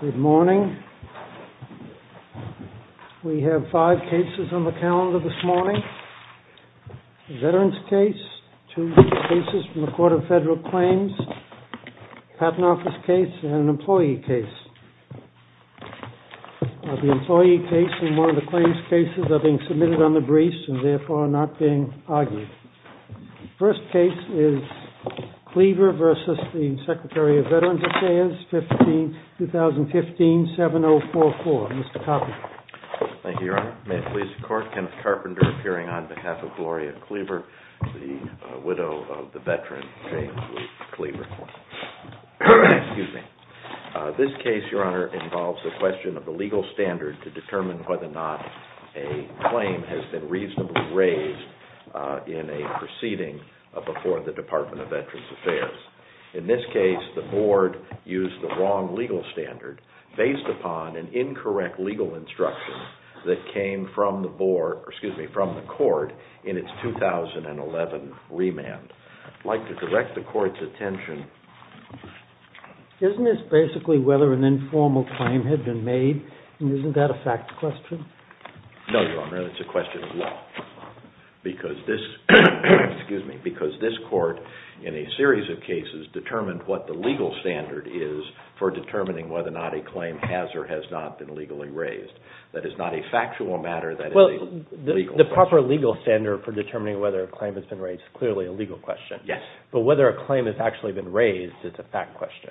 Good morning. We have five cases on the calendar this morning. A veterans case, two cases from the Court of Federal Claims, a Patent Office case, and an employee case. The employee case and one of the claims cases are being submitted on the briefs and therefore are not being submitted to the Department of Veterans Affairs, 2015-7044. Mr. Carpenter. Thank you, Your Honor. May it please the Court, Kenneth Carpenter appearing on behalf of Gloria Cleaver, the widow of the veteran James Lee Cleaver. This case, Your Honor, involves the question of the legal standard to determine whether or not a claim has been reasonably raised in a proceeding before the Department of Veterans Affairs. In this case, the Board used the wrong legal standard based upon an incorrect legal instruction that came from the Court in its 2011 remand. I'd like to direct the Court's attention... Isn't this basically whether an informal claim had been made and isn't that a fact question? No, Your Honor. It's a question of law because this Court, in a series of cases, determined what the legal standard is for determining whether or not a claim has or has not been legally raised. That is not a factual matter. Well, the proper legal standard for determining whether a claim has been raised is clearly a legal question. Yes. But whether a claim has actually been raised is a fact question.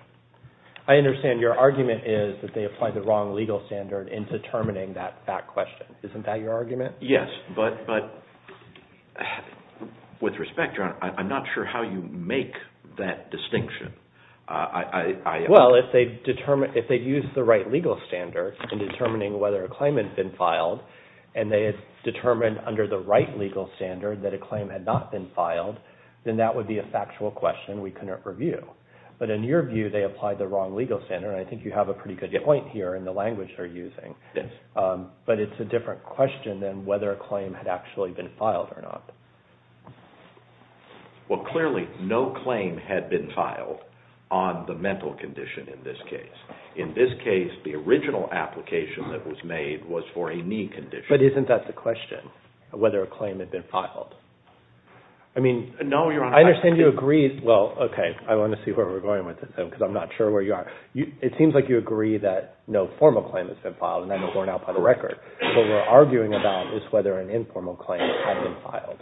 I understand your argument is that they applied the wrong legal standard in determining that fact question. Isn't that your argument? Yes. But with respect, Your Honor, I'm not sure how you make that distinction. Well, if they used the right legal standard in determining whether a claim had been filed and they had determined under the right legal standard that a claim had not been filed, then that would be a factual question we couldn't review. But in your view, they applied the wrong legal standard and I think you have a pretty good point here in the language they're using. Yes. But it's a different question than whether a claim had actually been filed or not. Well, clearly, no claim had been filed on the mental condition in this case. In this case, the original application that was made was for a knee condition. But isn't that the question, whether a claim had been filed? No, Your Honor. I understand you agree. Well, okay. I want to see where we're going with this, because I'm not sure where you are. It seems like you agree that no formal claim has been filed and I know borne out by the record. What we're arguing about is whether an informal claim had been filed.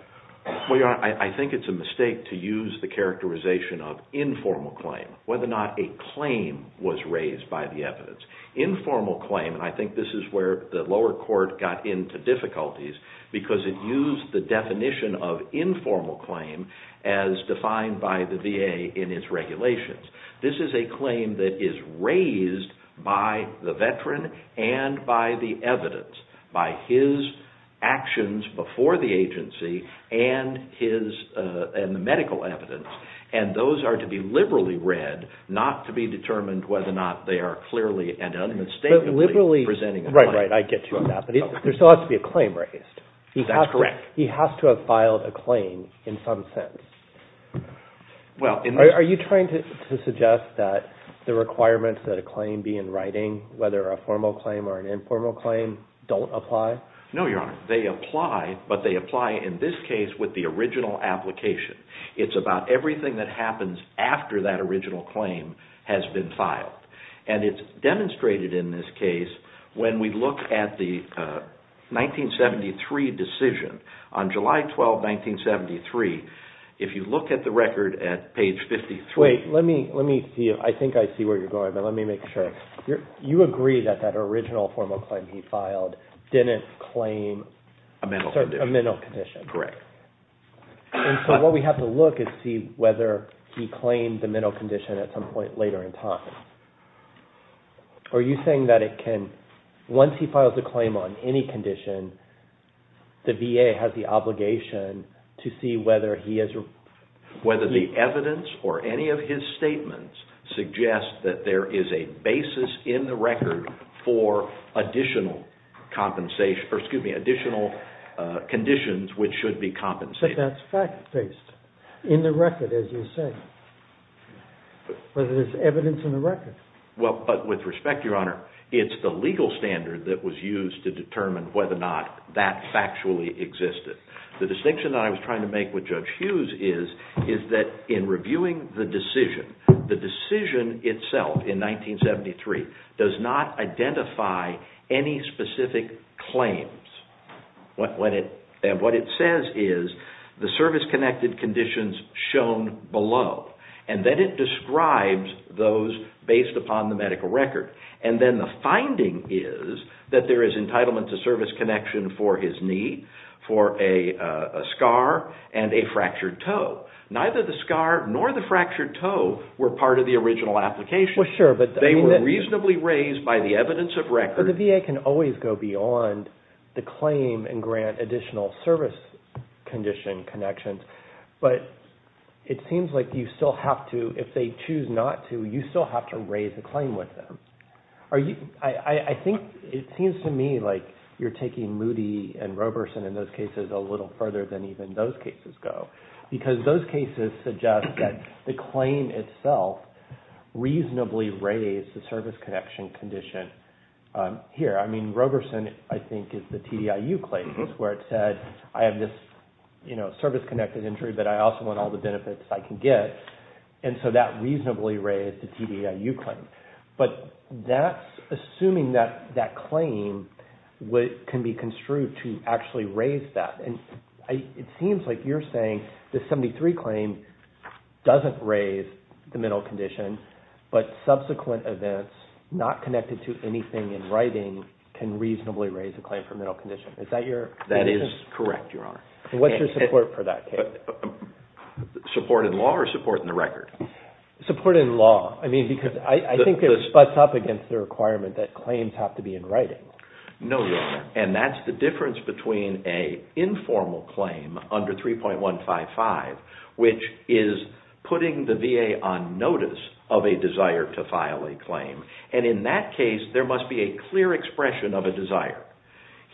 Well, Your Honor, I think it's a mistake to use the characterization of informal claim, whether or not a claim was raised by the evidence. Informal claim, and I think this is where the lower court got into difficulties, because it used the definition of informal claim as defined by the VA in its regulations. This is a claim that is raised by the veteran and by the evidence, by his actions before the agency and the medical evidence. And those are to be liberally read, not to be determined whether or not they are clearly and unmistakably presenting a claim. Right, right. I get you on that. But there still has to be a claim raised. That's correct. He has to have filed a claim in some sense. Are you trying to suggest that the requirements that a claim be in writing, whether a formal claim or an informal claim, don't apply? No, Your Honor. They apply, but they apply in this case with the original application. It's about everything that happens after that original claim has been filed. And it's on July 12, 1973. If you look at the record at page 53... Wait, let me see. I think I see where you're going, but let me make sure. You agree that that original formal claim he filed didn't claim... A mental condition. A mental condition. Correct. And so what we have to look is see whether he claimed the mental condition at some point later in time. Are you saying that it can, once he files a claim on any condition, the court has the obligation to see whether he has... Whether the evidence or any of his statements suggest that there is a basis in the record for additional conditions which should be compensated. But that's fact-based. In the record, as you say. Whether there's evidence in the record. Well, but with respect, Your Honor, it's the legal standard that was used to determine whether or not that factually existed. The distinction that I was trying to make with Judge Hughes is that in reviewing the decision, the decision itself in 1973 does not identify any specific claims. And what it says is the service-connected conditions shown below. And then it describes those based upon the medical record. And then the finding is that there is entitlement to service connection for his knee, for a scar, and a fractured toe. Neither the scar nor the fractured toe were part of the original application. Well, sure, but... They were reasonably raised by the evidence of record. But the VA can always go beyond the claim and grant additional service condition connections. But it seems like you still have to, if they choose not to, you still have to raise the claim with them. I think it seems to me like you're taking Moody and Roberson in those cases a little further than even those cases go. Because those cases suggest that the claim itself reasonably raised the service connection condition here. I mean, Roberson, I think, is the TDIU claim. It's where it said, I have this service-connected injury, but I also want all the benefits I can get. And so that reasonably raised the TDIU claim. But that's assuming that that claim can be construed to actually raise that. And it seems like you're saying the 73 claim doesn't raise the mental condition, but subsequent events not connected to anything in writing can reasonably raise the claim for mental condition. Is that your position? That is correct, Your Honor. What's your support for that case? Support in law or support in the record? Support in law. I mean, because I think it sputs up against the requirement that claims have to be in writing. No, Your Honor. And that's the difference between an informal claim under 3.155, which is putting the VA on notice of a desire to file a claim. And in that case, there must be a clear expression of a desire.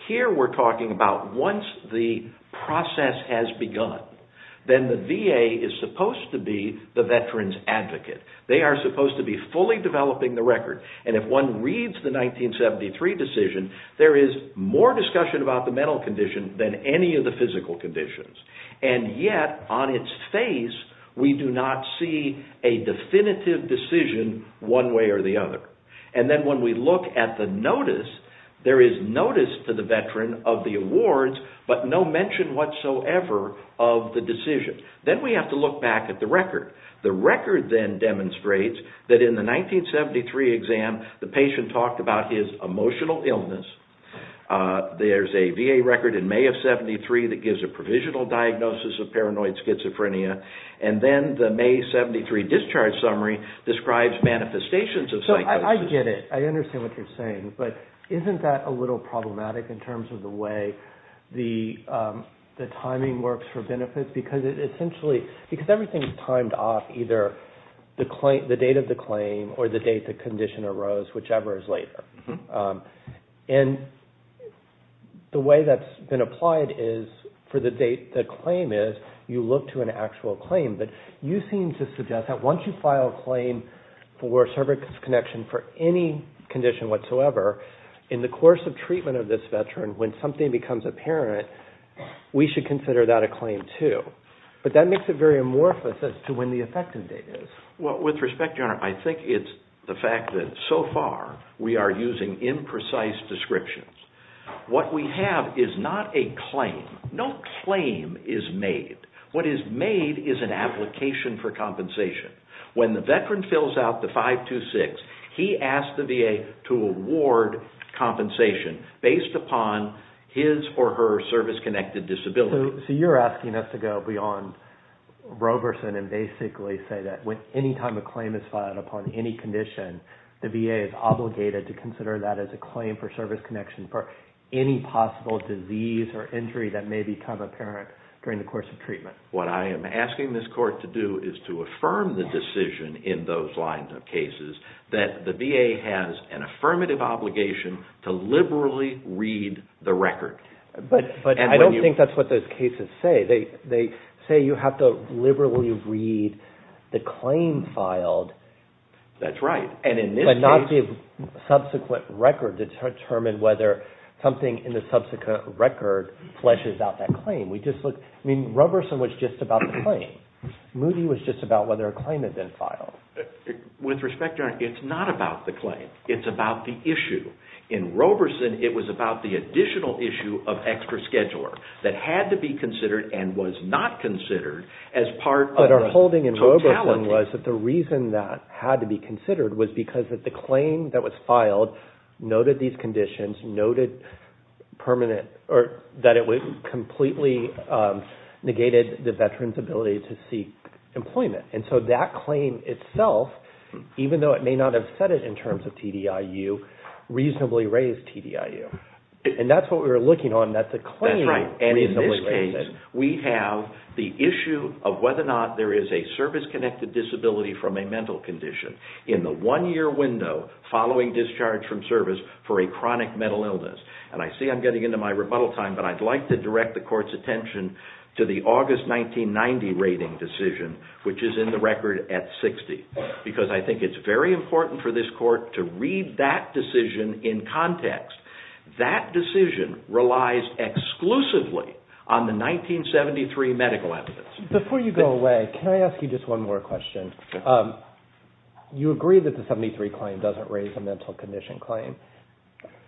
Here we're talking about once the process has begun, then the VA is supposed to be the veteran's advocate. They are supposed to be fully developing the record, and if one reads the 1973 decision, there is more discussion about the mental condition than any of the physical conditions. And yet, on its face, we do not see a definitive decision one way or the other. And then when we look at the notice, there is notice to the veteran of the awards, but no mention whatsoever of the decision. Then we have to look back at the record. The record then demonstrates that in the 1973 exam, the patient talked about his emotional illness. There's a VA record in May of 73 that gives a provisional diagnosis of paranoid schizophrenia. I get it. I understand what you're saying. But isn't that a little problematic in terms of the way the timing works for benefits? Because it essentially, because everything is timed off either the date of the claim or the date the condition arose, whichever is later. And the way that's been applied is for the date the claim is, you look to an actual claim. But you seem to suggest that once you file a claim for service connection for any condition whatsoever, in the course of treatment of this veteran, when something becomes apparent, we should consider that a claim too. But that makes it very amorphous as to when the effective date is. Well, with respect, Your Honor, I think it's the fact that so far we are using imprecise descriptions. What we have is not a claim. No claim is made. What is made is an application for compensation. When the veteran fills out the 526, he asks the VA to award compensation based upon his or her service-connected disability. So you're asking us to go beyond Roberson and basically say that any time a claim is filed upon any condition, the VA is obligated to consider that as a claim for service connection for any possible disease or injury that may become apparent during the course of treatment. What I am asking this Court to do is to affirm the decision in those lines of cases that the VA has an affirmative obligation to liberally read the record. But I don't think that's what those cases say. They say you have to liberally read the claim filed. That's right. But not give subsequent record to determine whether something in the subsequent record fleshes out that claim. Roberson was just about the claim. Moody was just about whether a claim had been filed. With respect, Your Honor, it's not about the claim. It's about the issue. In Roberson, it was about the additional issue of extra scheduler that had to be considered and was not considered as part of the totality. My understanding was that the reason that had to be considered was because the claim that was filed noted these conditions, noted that it completely negated the veteran's ability to seek employment. And so that claim itself, even though it may not have said it in terms of TDIU, reasonably raised TDIU. And that's what we were looking on, that the claim reasonably raised it. In this case, we have the issue of whether or not there is a service-connected disability from a mental condition in the one-year window following discharge from service for a chronic mental illness. And I see I'm getting into my rebuttal time, but I'd like to direct the Court's attention to the August 1990 rating decision, which is in the record at 60, because I think it's very important for this Court to read that decision in context. That decision relies exclusively on the 1973 medical evidence. Before you go away, can I ask you just one more question? You agree that the 73 claim doesn't raise a mental condition claim.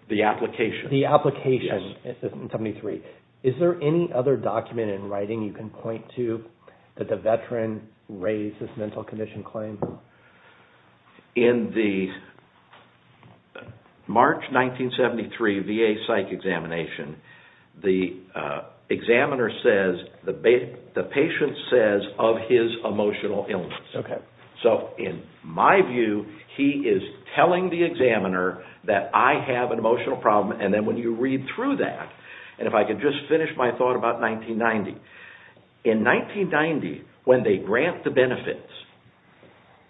The application. The application in 73. Is there any other document in writing you can point to that the veteran raised this mental condition claim? In the March 1973 VA psych examination, the examiner says, the patient says of his emotional illness. So in my view, he is telling the examiner that I have an emotional problem, and then when you read through that, and if I could just finish my thought about 1990. In 1990, when they grant the benefits,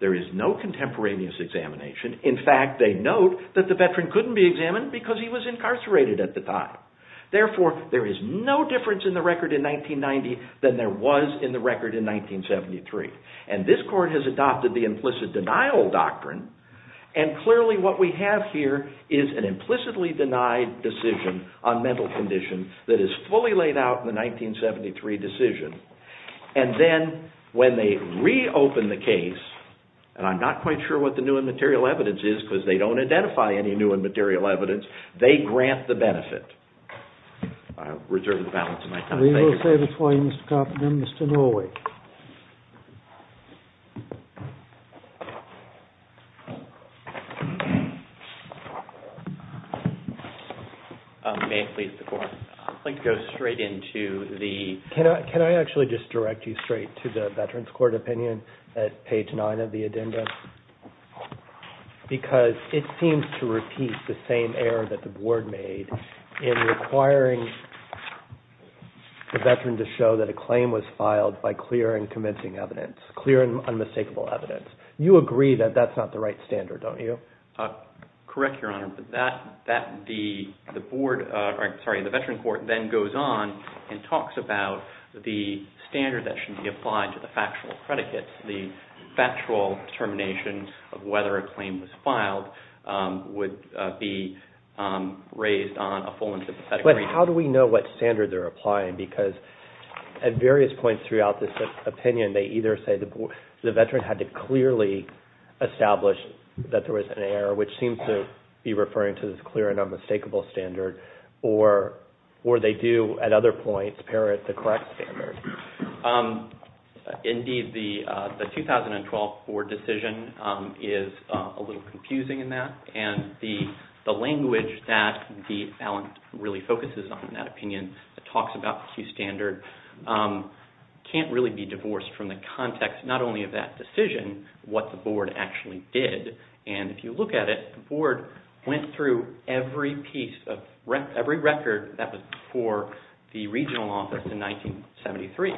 there is no contemporaneous examination. In fact, they note that the veteran couldn't be examined because he was incarcerated at the time. Therefore, there is no difference in the record in 1990 than there was in the record in 1973. And this Court has adopted the implicit denial doctrine, and clearly what we have here is an implicitly denied decision on mental condition that is fully laid out in the 1973 decision. And then when they reopen the case, and I'm not quite sure what the new and material evidence is because they don't identify any new and material evidence, they grant the benefit. I reserve the balance of my time. Thank you. We will save it for you, Mr. Carpenter. Mr. Norway. May it please the Court. I'd like to go straight into the... Can I actually just direct you straight to the Veterans Court opinion at page 9 of the addenda? Because it seems to repeat the same error that the Board made in requiring the veteran to show that a claim was filed by considering a medical condition as clear and convincing evidence, clear and unmistakable evidence. You agree that that's not the right standard, don't you? Correct, Your Honor. The Board, sorry, the Veterans Court then goes on and talks about the standard that should be applied to the factual predicates, the factual determinations of whether a claim was filed would be raised on a full and sympathetic reading. But how do we know what standard they're applying? Because at various points throughout this opinion, they either say the veteran had to clearly establish that there was an error, which seems to be referring to this clear and unmistakable standard, or they do, at other points, parrot the correct standard. Indeed, the 2012 Board decision is a little confusing in that, and the language that the balance really focuses on in that opinion that talks about the Q standard can't really be divorced from the context not only of that decision, what the Board actually did. And if you look at it, the Board went through every piece, every record that was before the regional office in 1973.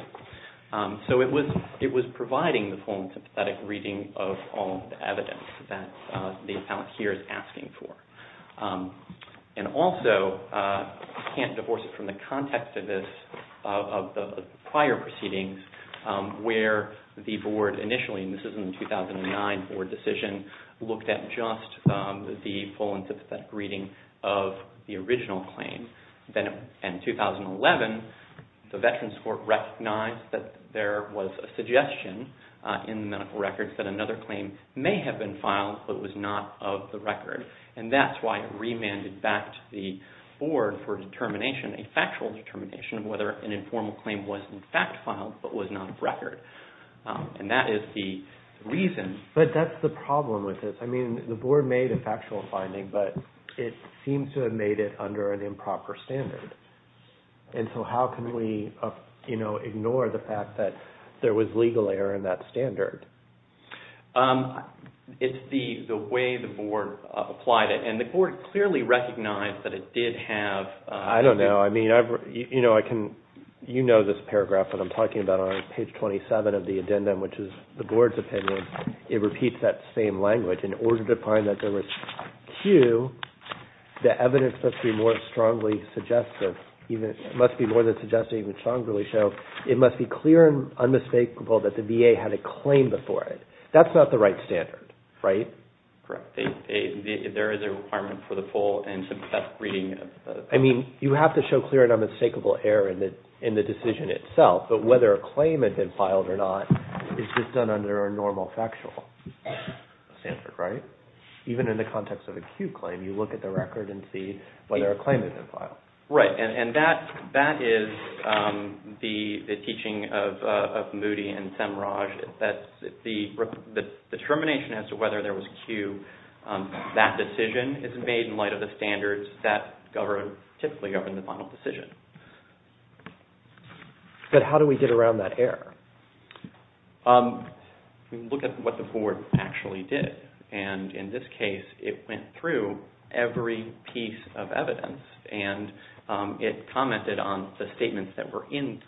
So it was providing the full and sympathetic reading of all the evidence that the appellant here is asking for. And also, you can't divorce it from the context of the prior proceedings where the Board initially, and this is in the 2009 Board decision, looked at just the full and sympathetic reading of the original claim. Then in 2011, the Veterans Court recognized that there was a suggestion in the medical records that another claim may have been filed, but was not of the record. And that's why it remanded back to the Board for determination, a factual determination of whether an informal claim was in fact filed, but was not of record. And that is the reason. But that's the problem with this. I mean, the Board made a factual finding, but it seems to have made it under an improper standard. And so how can we ignore the fact that there was legal error in that standard? It's the way the Board applied it. And the Board clearly recognized that it did have... I don't know. I mean, you know this paragraph that I'm talking about on page 27 of the addendum, which is the Board's opinion. It repeats that same language. In order to find that there was cue, the evidence must be more than suggestive, even strongly so. It must be clear and unmistakable that the VA had a claim before it. That's not the right standard, right? Correct. There is a requirement for the full and some depth reading. I mean, you have to show clear and unmistakable error in the decision itself. But whether a claim had been filed or not is just done under a normal factual standard, right? Even in the context of a cue claim, you look at the record and see whether a claim had been filed. Right. And that is the teaching of Moody and Semraj. The determination as to whether there was cue, that decision is made in light of the standards that typically govern the final decision. But how do we get around that error? We look at what the Board actually did. And in this case, it went through every piece of evidence. And it commented on the statements that were in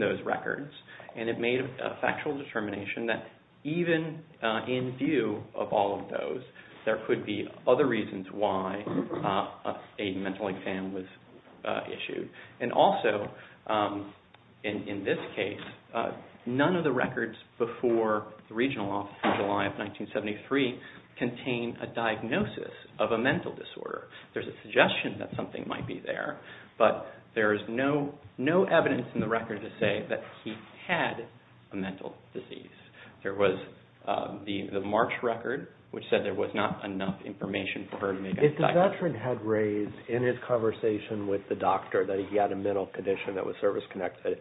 those records. And it made a factual determination that even in view of all of those, there could be other reasons why a mental exam was issued. And also, in this case, none of the records before the regional office in July of 1973 contain a diagnosis of a mental disorder. There is a suggestion that something might be there. But there is no evidence in the record to say that he had a mental disease. There was the March record, which said there was not enough information for her to make a diagnosis. If a veteran had raised in his conversation with the doctor that he had a mental condition that was service-connected,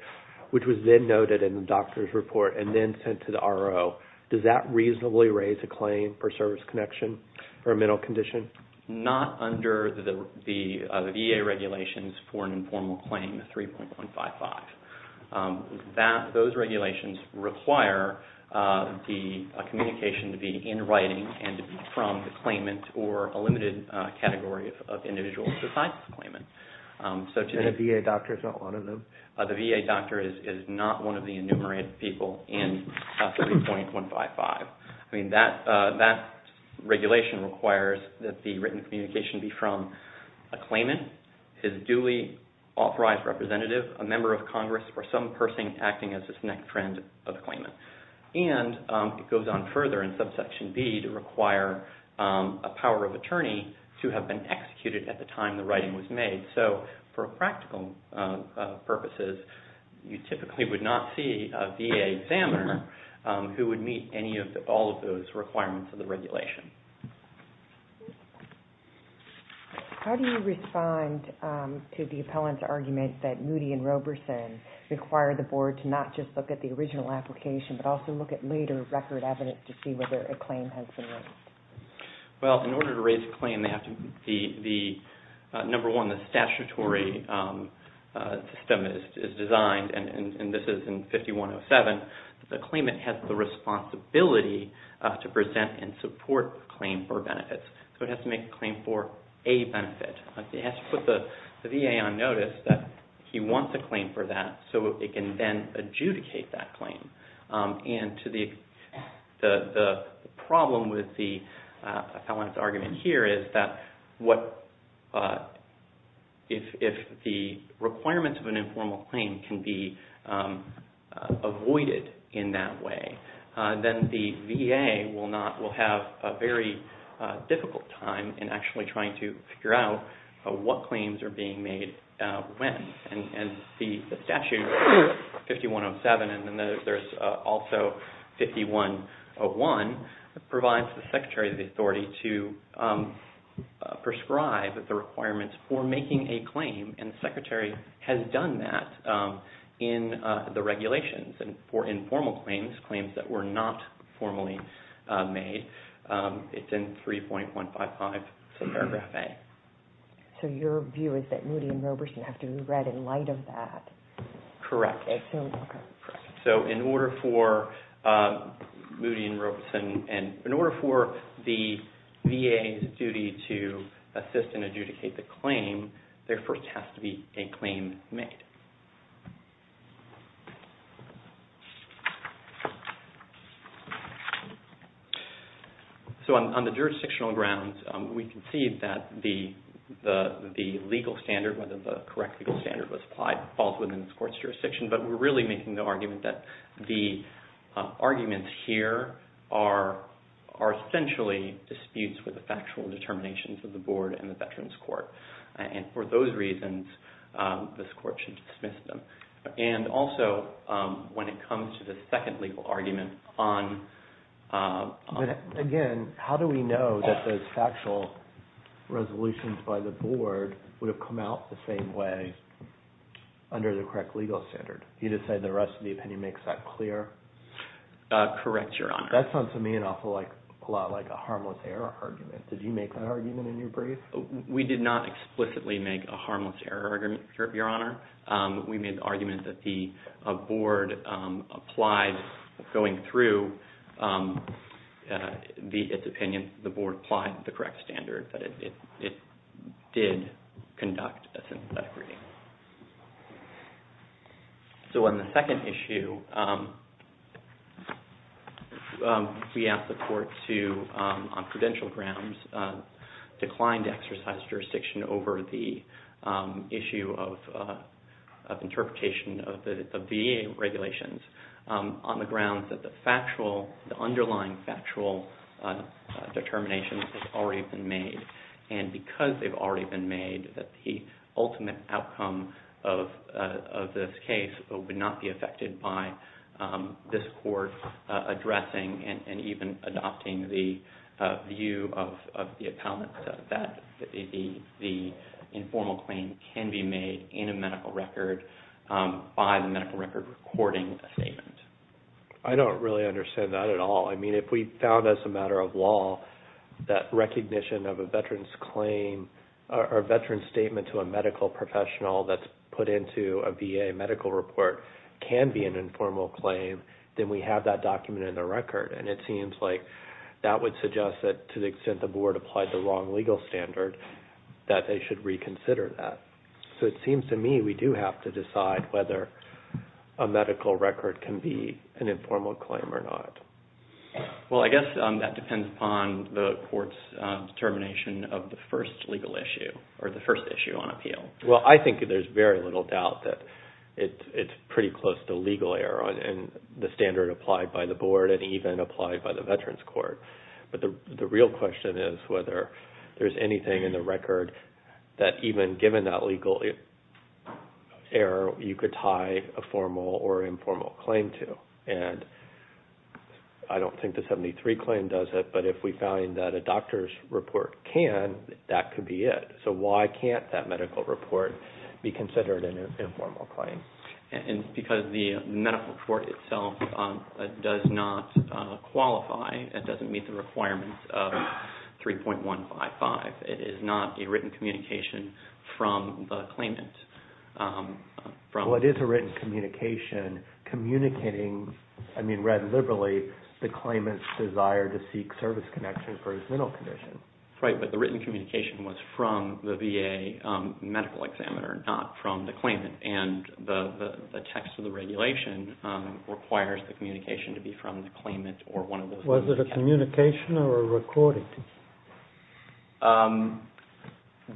which was then noted in the doctor's report and then sent to the RO, does that reasonably raise a claim for service connection for a mental condition? Not under the VA regulations for an informal claim, 3.155. Those regulations require the communication to be in writing and to be from the claimant or a limited category of individuals besides the claimant. And a VA doctor is not one of them? The VA doctor is not one of the enumerated people in 3.155. I mean, that regulation requires that the written communication be from a claimant, his duly authorized representative, a member of Congress, or some person acting as his next friend of the claimant. And it goes on further in subsection B to require a power of attorney to have been executed at the time the writing was made. So for practical purposes, you typically would not see a VA examiner who would meet all of those requirements of the regulation. How do you respond to the appellant's argument that Moody and Roberson require the board to not just look at the original application, but also look at later record evidence to see whether a claim has been raised? Well, in order to raise a claim, number one, the statutory system is designed, and this is in 5107, the claimant has the responsibility to present and support a claim for benefits. So it has to make a claim for a benefit. It has to put the VA on notice that he wants a claim for that so it can then adjudicate that claim. And the problem with the appellant's argument here is that if the requirements of an informal claim can be avoided in that way, then the VA will have a very difficult time in actually trying to figure out what claims are being made when. And the statute 5107, and then there's also 5101, provides the Secretary of the Authority to prescribe the requirements for making a claim, and the Secretary has done that in the regulations. And for informal claims, claims that were not formally made, it's in 3.155 paragraph A. So your view is that Moody and Roberson have to be read in light of that? Correct. So in order for the VA's duty to assist and adjudicate the claim, there first has to be a claim made. So on the jurisdictional grounds, we can see that the legal standard, whether the correct legal standard falls within this court's jurisdiction, but we're really making the argument that the arguments here are essentially disputes with the factual determinations of the board and the veterans court. And for those reasons, this court should dismiss them. And also, when it comes to the second legal argument on – Again, how do we know that those factual resolutions by the board would have come out the same way under the correct legal standard? You just say the rest of the opinion makes that clear? Correct, Your Honor. That sounds to me an awful lot like a harmless error argument. Did you make that argument in your brief? We did not explicitly make a harmless error argument, Your Honor. We made the argument that the board applied going through its opinion, the board applied the correct standard, that it did conduct a synthetic reading. So on the second issue, we asked the court to, on credential grounds, decline to exercise jurisdiction over the issue of interpretation of the VA regulations on the grounds that the underlying factual determinations have already been made. And because they've already been made, the ultimate outcome of this case would not be affected by this court addressing and even adopting the view of the appellant that the informal claim can be made in a medical record by the medical record recording statement. I don't really understand that at all. I mean, if we found as a matter of law that recognition of a veteran's claim or a veteran's statement to a medical professional that's put into a VA medical report can be an informal claim, then we have that document in the record. And it seems like that would suggest that to the extent the board applied the wrong legal standard, that they should reconsider that. So it seems to me we do have to decide whether a medical record can be an informal claim or not. Well, I guess that depends upon the court's determination of the first legal issue or the first issue on appeal. Well, I think there's very little doubt that it's pretty close to legal error and the standard applied by the board and even applied by the Veterans Court. But the real question is whether there's anything in the record that, even given that legal error, you could tie a formal or informal claim to. And I don't think the 73 claim does it, but if we find that a doctor's report can, that could be it. So why can't that medical report be considered an informal claim? Because the medical report itself does not qualify. It doesn't meet the requirements of 3.155. It is not a written communication from the claimant. Well, it is a written communication communicating, I mean, read liberally, the claimant's desire to seek service connection for his mental condition. Right, but the written communication was from the VA medical examiner, not from the claimant. And the text of the regulation requires the communication to be from the claimant or one of the... Was it a communication or a recording?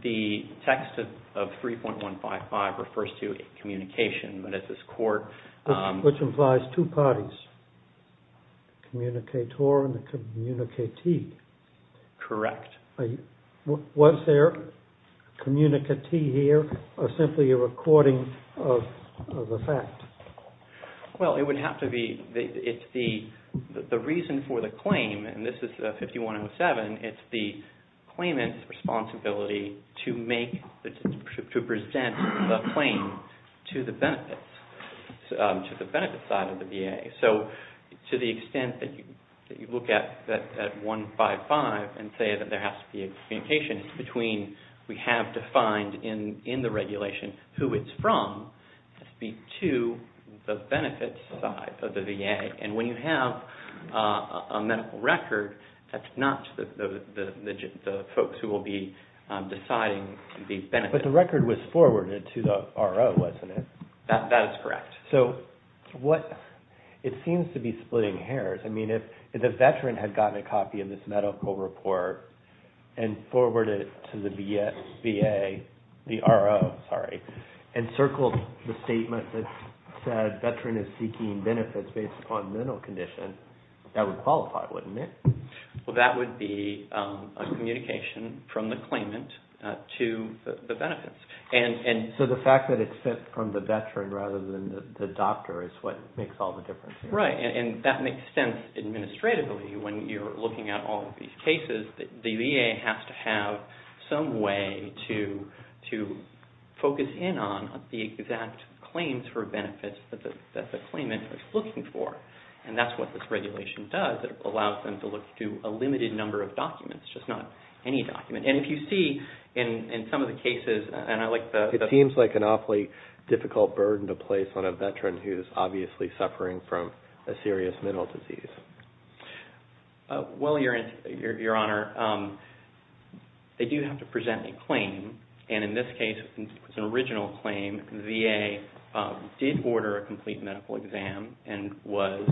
The text of 3.155 refers to a communication, but at this court... Which implies two parties, the communicator and the communicatee. Correct. Was there a communicatee here or simply a recording of the fact? Well, it would have to be... The reason for the claim, and this is 5107, it's the claimant's responsibility to make, to present the claim to the benefit, to the benefit side of the VA. So to the extent that you look at 1.55 and say that there has to be a communication between, we have defined in the regulation who it's from, to the benefit side of the VA. And when you have a medical record, that's not the folks who will be deciding the benefit. But the record was forwarded to the RO, wasn't it? That is correct. So it seems to be splitting hairs. I mean, if the veteran had gotten a copy of this medical report and forwarded it to the VA, the RO, sorry, and circled the statement that said veteran is seeking benefits based upon mental condition, that would qualify, wouldn't it? Well, that would be a communication from the claimant to the benefits. So the fact that it's sent from the veteran rather than the doctor is what makes all the difference here. Right, and that makes sense administratively when you're looking at all of these cases. The VA has to have some way to focus in on the exact claims for benefits that the claimant is looking for. And that's what this regulation does. It allows them to look through a limited number of documents, just not any document. And if you see in some of the cases, and I like the- It seems like an awfully difficult burden to place on a veteran who is obviously suffering from a serious mental disease. Well, Your Honor, they do have to present a claim. And in this case, it's an original claim. VA did order a complete medical exam and was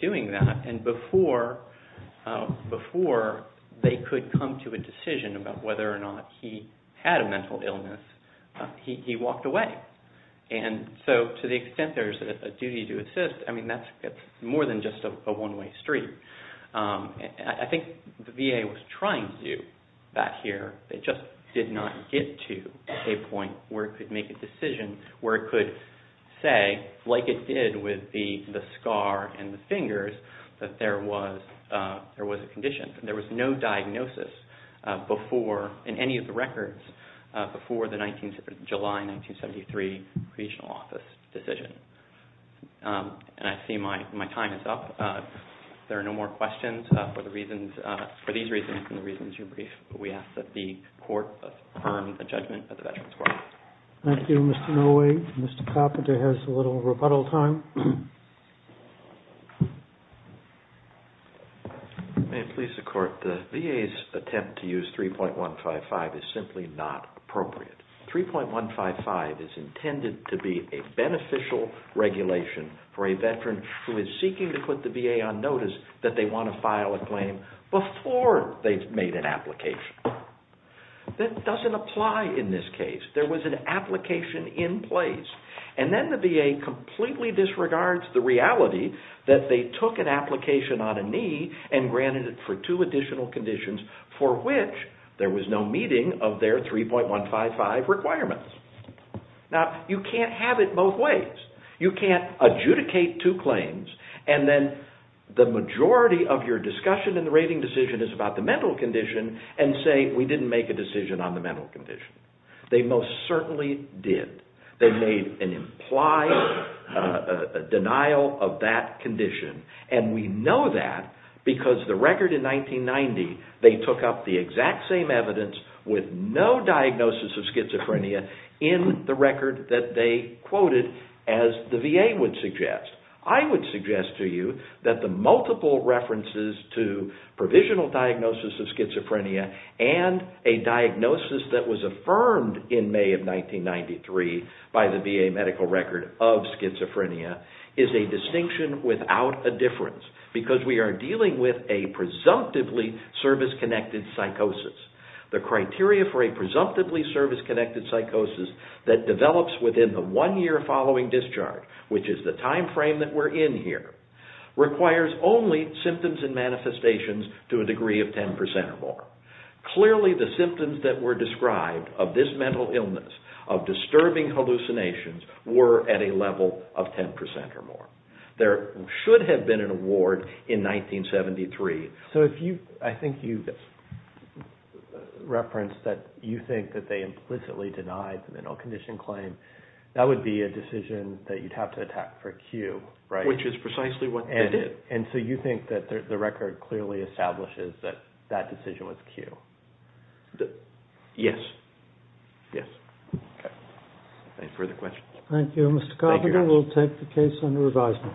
doing that. And before they could come to a decision about whether or not he had a mental illness, he walked away. And so to the extent there's a duty to assist, I mean, that's more than just a one-way street. I think the VA was trying to do that here. They just did not get to a point where it could make a decision where it could say, like it did with the scar and the fingers, that there was a condition. There was no diagnosis before, in any of the records, before the July 1973 Regional Office decision. And I see my time is up. If there are no more questions, for these reasons and the reasons you briefed, we ask that the Court affirm the judgment of the Veterans Court. Thank you, Mr. Nowak. Mr. Carpenter has a little rebuttal time. May it please the Court, the VA's attempt to use 3.155 is simply not appropriate. 3.155 is intended to be a beneficial regulation for a Veteran who is seeking to put the VA on notice that they want to file a claim before they've made an application. That doesn't apply in this case. There was an application in place. And then the VA completely disregards the reality that they took an application on a knee and granted it for two additional conditions for which there was no meeting of their 3.155 requirements. Now, you can't have it both ways. You can't adjudicate two claims and then the majority of your discussion in the rating decision is about the mental condition and say, we didn't make a decision on the mental condition. They most certainly did. They made an implied denial of that condition. And we know that because the record in 1990, they took up the exact same evidence with no diagnosis of schizophrenia in the record that they quoted as the VA would suggest. I would suggest to you that the multiple references to provisional diagnosis of schizophrenia and a diagnosis that was affirmed in May of 1993 by the VA medical record of schizophrenia is a distinction without a difference because we are dealing with a presumptively service-connected psychosis. The criteria for a presumptively service-connected psychosis that develops within the one year following discharge, which is the time frame that we're in here, requires only symptoms and manifestations to a degree of 10% or more. Clearly, the symptoms that were described of this mental illness, of disturbing hallucinations, were at a level of 10% or more. There should have been an award in 1973. I think you referenced that you think that they implicitly denied the mental condition claim. That would be a decision that you'd have to attack for Q, right? Which is precisely what they did. And so you think that the record clearly establishes that that decision was Q? Yes. Yes. Okay. Any further questions? Thank you. Mr. Carpenter, we'll take the case under advisement.